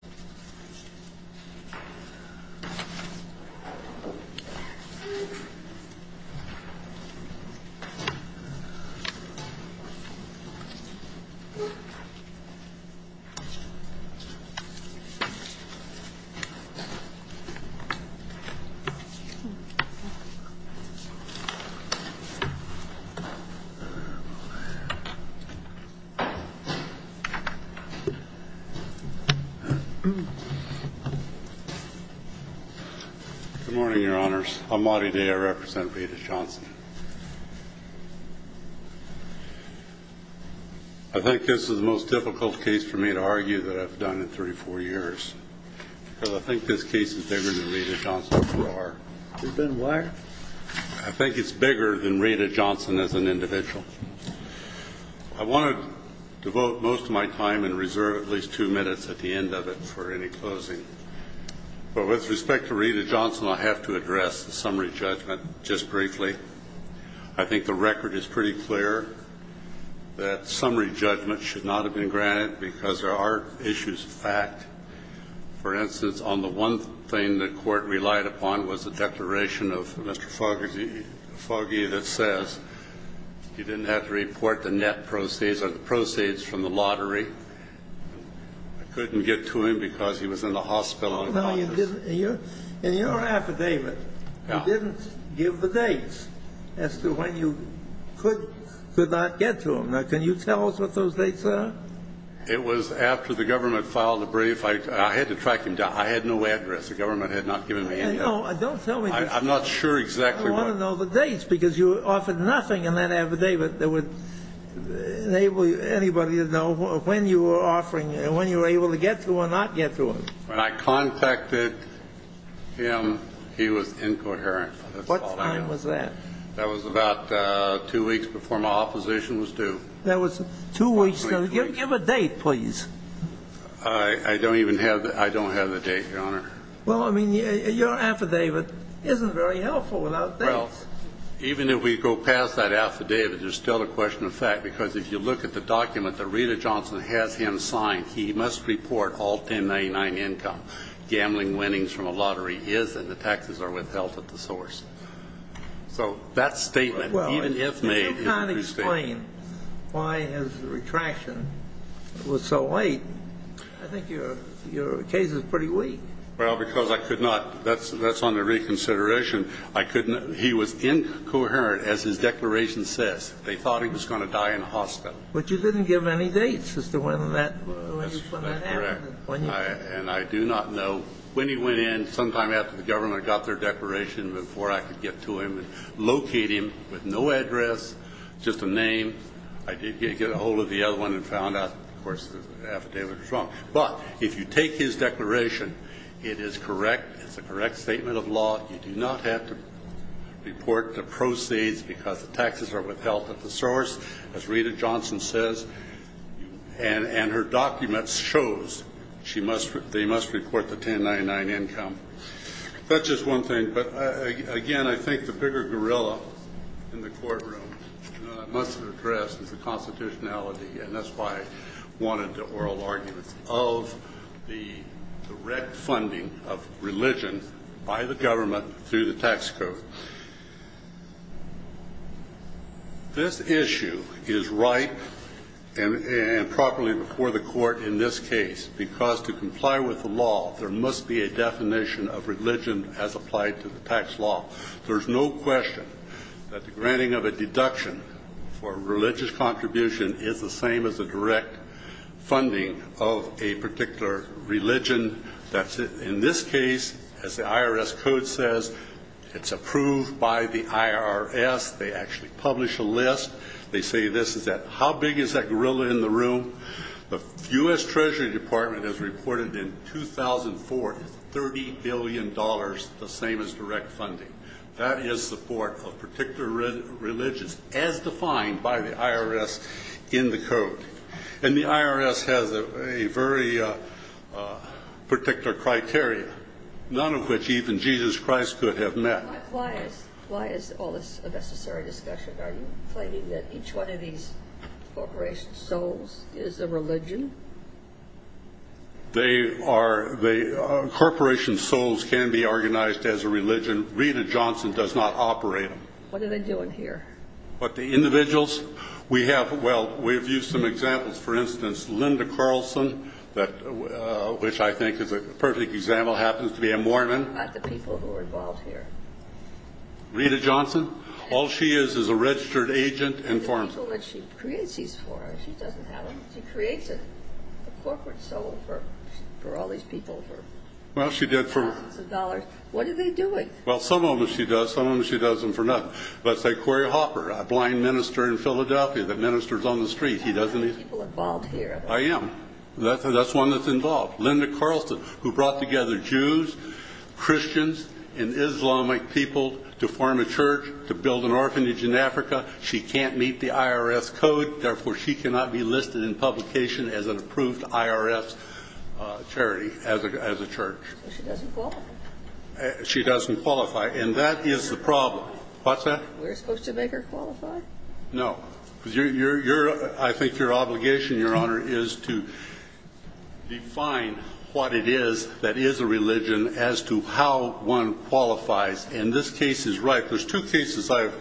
Why are dogs so important to Jesus? he stays in the house but he goes out I don't know why he's so important to Jesus Good morning, your honors. I'm Marty Day. I represent Rada Johnson. I think this is the most difficult case for me to argue that I've done in three four years. I think this case is bigger than Rada Johnson. I think it's bigger than Rada Johnson as an individual. I want to devote most of my time and reserve at least two minutes at the end of it for any closing. But with respect to Rada Johnson, I have to address the summary judgment just briefly. I think the record is pretty clear that summary judgment should not have been granted because there are issues of fact. For instance, on the one thing that court relied upon was a declaration of Mr. Foggy that says he didn't have to report the net proceeds or the proceeds from the lottery. I couldn't get to him because he was in the hospital. In your affidavit, you didn't give the dates as to when you could or could not get to him. Now can you tell us what those dates are? It was after the government filed a brief. I had to track him down. I had no address. The government had not given me any. No, don't tell me. I'm not sure exactly what. I want to know the dates because you offered nothing in that affidavit that would enable anybody to know when you were offering and when you were able to get to or not get to him. When I contacted him, he was incoherent. What time was that? That was about two weeks before my opposition was due. That was two weeks. Give a date, please. I don't even have the date, Your Honor. Well, I mean, your affidavit isn't very helpful without dates. Even if we go past that affidavit, there's still a question of fact because if you look at the document that Rita Johnson has him sign, he must report all 1099 income. Gambling winnings from a lottery is and the taxes are withheld at the source. So that statement, even if made, is a true statement. Why his retraction was so late? I think your your case is pretty weak. Well, because I could not. That's that's on the reconsideration. I couldn't. He was incoherent, as his declaration says. They thought he was going to die in a hospital. But you didn't give any dates as to when that when that happened. And I do not know when he went in sometime after the government got their declaration before I could get to him and locate him with no address, just a name. I did get a hold of the other one and found out, of course, the affidavit was wrong. But if you take his declaration, it is correct. It's a correct statement of law. You do not have to report the proceeds because the taxes are withheld at the source, as Rita Johnson says, and her documents shows she must they must report the 1099 income. That's just one thing. But again, I think the bigger gorilla in the courtroom must address is the constitutionality. And that's why I wanted the oral arguments of the direct funding of religion by the government through the tax code. This issue is right and properly before the court in this case, because to comply with the law, there must be a definition of religion as applied to the tax law. There's no question that the granting of a deduction for religious contribution is the same as a direct funding of a particular religion. That's in this case, as the IRS code says, it's approved by the IRS. They actually publish a list. They say this is that how big is that gorilla in the room? The U.S. Treasury Department has reported in 2004, 30 billion dollars, the same as direct funding. That is support for particular religions, as defined by the IRS in the code. And the IRS has a very particular criteria, none of which even Jesus Christ could have met. Why is all this a necessary discussion? Are you claiming that each one of these corporation souls is a religion? They are the corporation souls can be organized as a religion. Rita Johnson does not operate them. What are they doing here? But the individuals we have. Well, we've used some examples, for instance, Linda Carlson, which I think is a perfect example, happens to be a Mormon. Not the people who are involved here. Rita Johnson, all she is, is a registered agent and for people that she creates these for, she doesn't have to create a corporate soul for for all these people. Well, she did for thousands of dollars. What are they doing? Well, some of them she does. Some of them she doesn't for nothing. Let's say Corey Hopper, a blind minister in Philadelphia that ministers on the street. He doesn't need people involved here. I am. That's one that's involved. Linda Carlson, who brought together Jews, Christians and Islamic people to form a church to build an orphanage in Africa. She can't meet the IRS code. Therefore, she cannot be listed in publication as an approved IRS charity as a church. She doesn't qualify. And that is the problem. What's that? We're supposed to make her qualify. No, because you're I think your obligation, Your Honor, is to define what it is that is a religion as to how one qualifies. And this case is right. There's two cases I've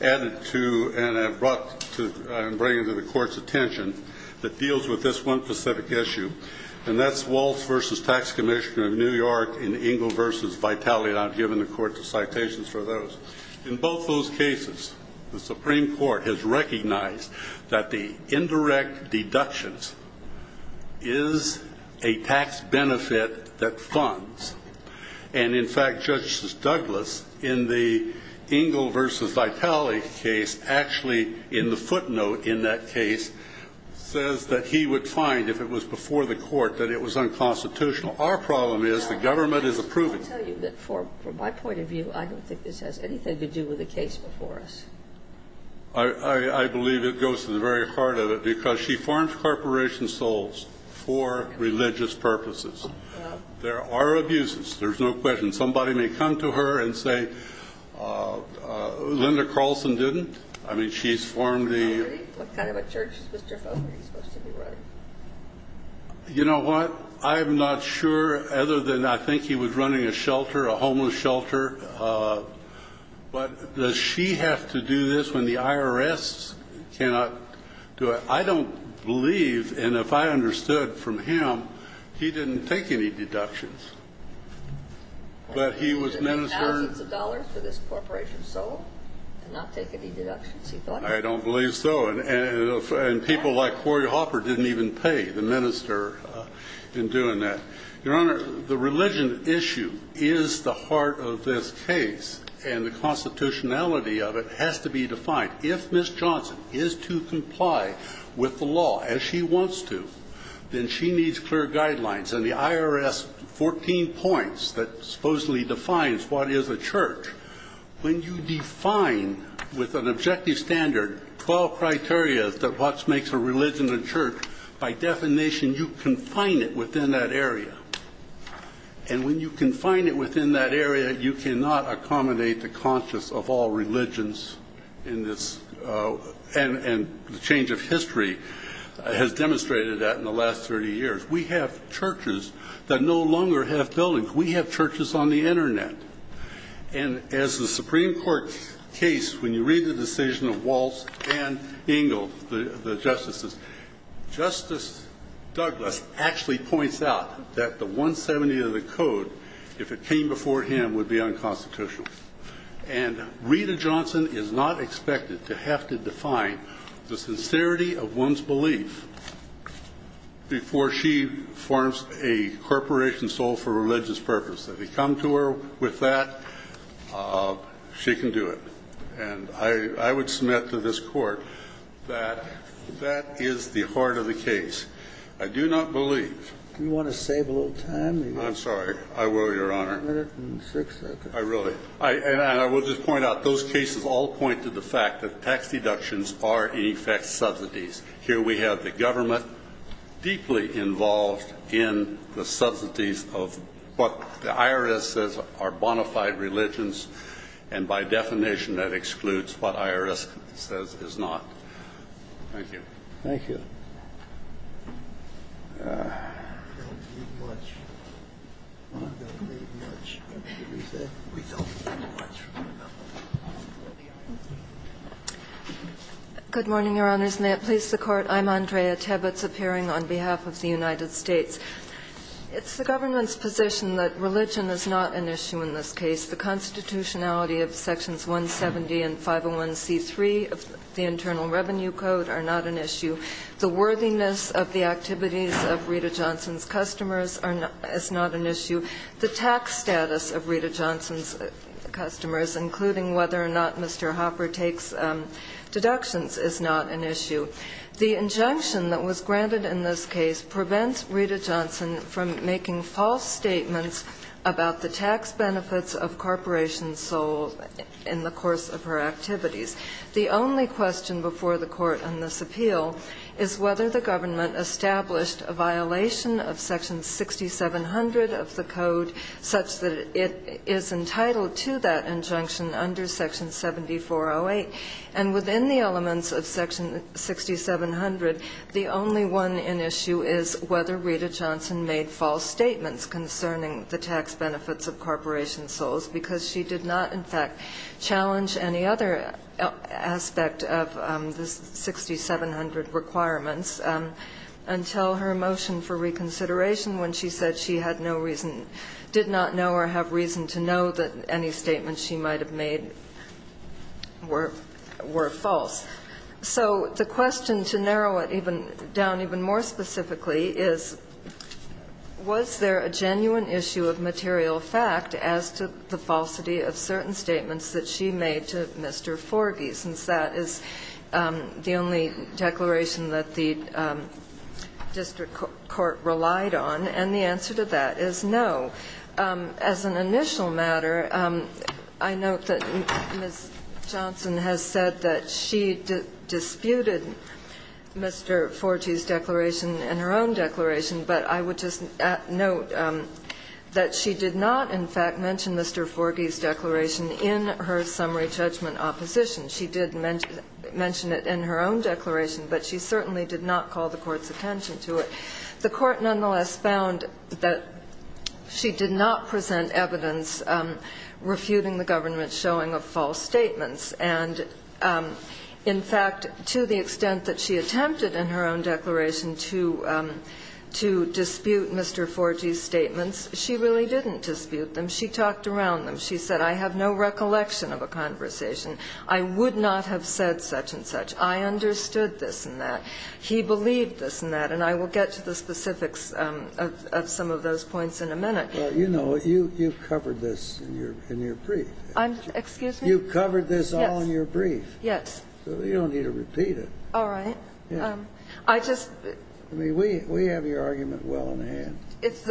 added to and I've brought to bring to the court's attention that deals with this one specific issue. And that's Waltz versus Tax Commissioner of New York in Ingle versus Vitality. And I've given the court the citations for those in both those cases. The Supreme Court has recognized that the indirect deductions is a tax benefit that funds. And in fact, Justice Douglas, in the Ingle versus Vitality case, actually in the footnote in that case, says that he would find if it was before the court that it was unconstitutional. Our problem is the government is approving. I tell you that for my point of view, I don't think this has anything to do with the case before us. I believe it goes to the very heart of it because she forms corporation souls for religious purposes. There are abuses. There's no question. Somebody may come to her and say, Linda Carlson didn't. I mean, she's formed the kind of a church. Mr. Foster, you know what? I'm not sure other than I think he was running a shelter, a homeless shelter. But does she have to do this when the IRS cannot do it? I don't believe. And if I understood from him, he didn't take any deductions, but he was ministering. Thousands of dollars for this corporation soul to not take any deductions, he thought. I don't believe so. And people like Corey Hopper didn't even pay the minister in doing that. Your Honor, the religion issue is the heart of this case, and the constitutionality of it has to be defined. If Ms. Johnson is to comply with the law as she wants to, then she needs clear guidelines. And the IRS 14 points that supposedly defines what is a church, when you define with an objective standard 12 criteria that what makes a religion a church, by definition, you confine it within that area. And when you confine it within that area, you cannot accommodate the conscience of all religions in this. And the change of history has demonstrated that in the last 30 years. We have churches that no longer have buildings. We have churches on the Internet. And as the Supreme Court case, when you read the decision of Waltz and Engle, the justices, Justice Douglas actually points out that the 170 of the code, if it came before him, would be unconstitutional. And Rita Johnson is not expected to have to define the sincerity of one's belief before she forms a corporation sold for religious purpose. If you come to her with that, she can do it. And I would submit to this court that that is the heart of the case. I do not believe. Do you want to save a little time? I'm sorry. I will, Your Honor. A minute and six seconds. I really. And I will just point out, those cases all point to the fact that tax deductions are, in effect, subsidies. Here we have the government deeply involved in the subsidies of what the IRS says are bona fide religions. And by definition, that excludes what IRS says is not. Thank you. Thank you. Good morning, Your Honors. May it please the Court. I'm Andrea Tebitz, appearing on behalf of the United States. It's the government's position that religion is not an issue in this case. The constitutionality of Sections 170 and 501c3 of the Internal Revenue Code are not an issue. The worthiness of the activities of Rita Johnson's customers is not an issue. The tax status of Rita Johnson's customers, including whether or not Mr. Hopper takes deductions, is not an issue. The injunction that was granted in this case prevents Rita Johnson from making false statements about the tax benefits of corporations sold in the course of her activities. The only question before the Court on this appeal is whether the government established a violation of Section 6700 of the code such that it is entitled to that injunction under Section 7408. And within the elements of Section 6700, the only one in issue is whether Rita Johnson made false statements concerning the tax benefits of corporation souls because she did not, in fact, challenge any other aspect of the 6700 requirements. Until her motion for reconsideration when she said she had no reason, did not know or have reason to know that any statements she might have made were false. So the question, to narrow it down even more specifically, is was there a genuine issue of material fact as to the falsity of certain statements that she made to Mr. Forgey, since that is the only declaration that the district court relied on, and the answer to that is no. As an initial matter, I note that Ms. Johnson has said that she disputed Mr. Forgey's declaration in her own declaration, but I would just note that she did not, in fact, mention Mr. Forgey's declaration in her summary judgment opposition. She did mention it in her own declaration, but she certainly did not call the Court's attention to it. The Court nonetheless found that she did not present evidence refuting the government's showing of false statements, and in fact, to the extent that she attempted in her own declaration to dispute Mr. Forgey's statements, she really didn't dispute them. She talked around them. She said, I have no recollection of a conversation. I would not have said such and such. I understood this and that. He believed this and that, and I will get to the specifics of some of those points in a minute. You know, you've covered this in your brief. Excuse me? You've covered this all in your brief. Yes. You don't need to repeat it. All right. I just ---- I mean, we have your argument well in hand. If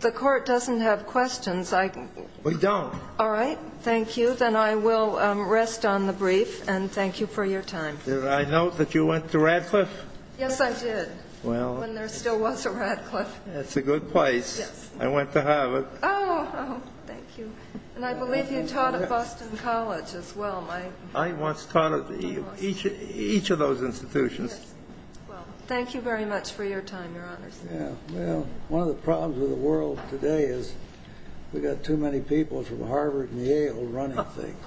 the Court doesn't have questions, I can ---- We don't. All right. Thank you. Then I will rest on the brief, and thank you for your time. Did I note that you went to Radcliffe? Yes, I did, when there still was a Radcliffe. That's a good place. I went to Harvard. Oh, thank you. And I believe you taught at Boston College as well, Mike. I once taught at each of those institutions. Thank you very much for your time, Your Honors. Well, one of the problems with the world today is we've got too many people from Harvard and Yale running things.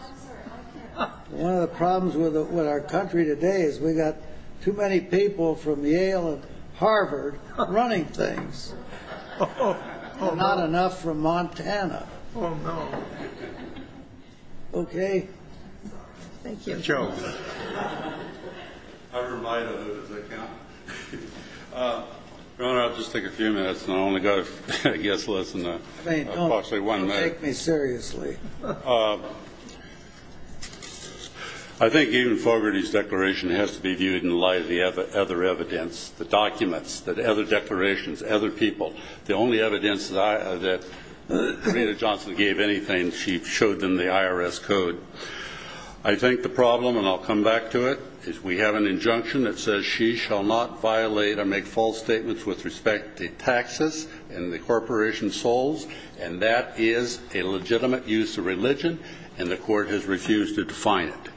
And one of the problems with our country today is we've got too many people from Yale and Harvard running things. Not enough from Montana. OK? Thank you. Joe. I'm reminded of it as I count. Your Honor, I'll just take a few minutes, and I only got a guess less than a quarter of a minute. Don't take me seriously. I think even Fogarty's declaration has to be viewed in light of the other evidence, the documents, the other declarations, other people. The only evidence that Rena Johnson gave anything, she showed them the IRS code. I think the problem, and I'll come back to it, is we have an injunction that says she shall not violate or make false statements with respect to taxes and the corporation's souls. And that is a legitimate use of religion, and the court has refused to define it.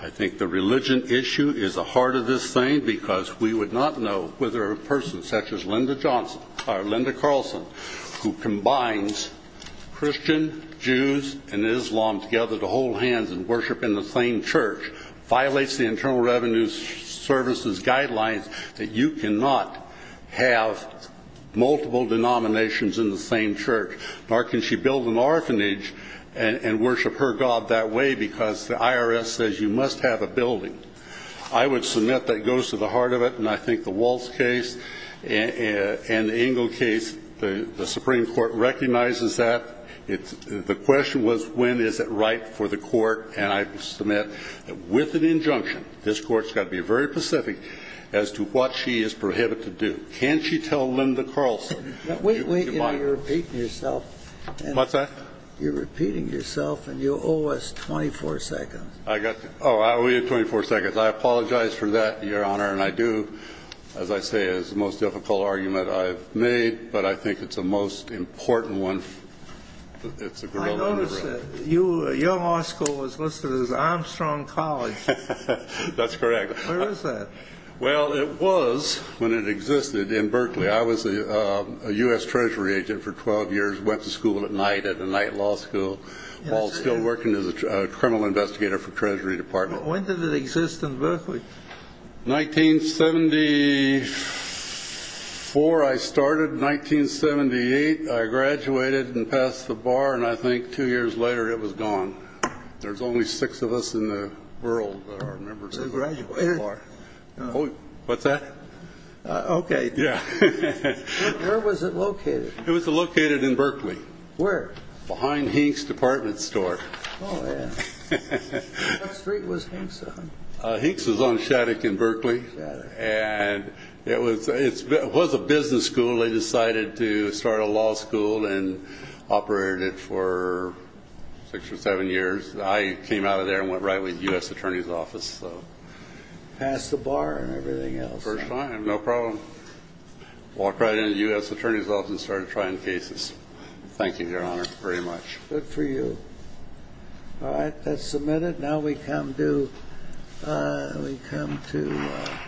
I think the religion issue is the heart of this thing, because we would not know whether a person such as Linda Carlson, who combines Christian, Jews, and Islam together to hold hands and worship in the same church, violates the Internal Revenue Service's guidelines that you cannot have multiple denominations in the same church. Nor can she build an orphanage and worship her God that way, because the IRS says you must have a building. I would submit that goes to the heart of it. And I think the Waltz case and the Ingle case, the Supreme Court recognizes that. The question was, when is it right for the court? And I submit that with an injunction, this court's got to be very specific as to what she is prohibited to do. Can't she tell Linda Carlson? Wait, wait, you're repeating yourself. What's that? You're repeating yourself, and you owe us 24 seconds. I got that. Oh, we have 24 seconds. I apologize for that, Your Honor. And I do, as I say, it's the most difficult argument I've made, but I think it's the most important one. It's a good one. I noticed that your law school was listed as Armstrong College. That's correct. Where is that? Well, it was when it existed in Berkeley. I was a US Treasury agent for 12 years, went to school at night at the Knight Law School while still working as a criminal investigator for Treasury Department. When did it exist in Berkeley? 1974. I started in 1978. I graduated and passed the bar, and I think two years later, it was gone. There's only six of us in the world that are members of the bar. What's that? OK. Yeah. Where was it located? It was located in Berkeley. Where? Behind Hink's Department Store. Oh, yeah. What street was Hink's on? Hink's was on Shattuck in Berkeley, and it was a business school. They decided to start a law school and operated it for six or seven years. I came out of there and went right with US Attorney's Office. Passed the bar and everything else. No problem. Walked right into US Attorney's Office and started trying cases. Thank you, Your Honor, very much. Good for you. All right, that's submitted. Now we come to, we come to.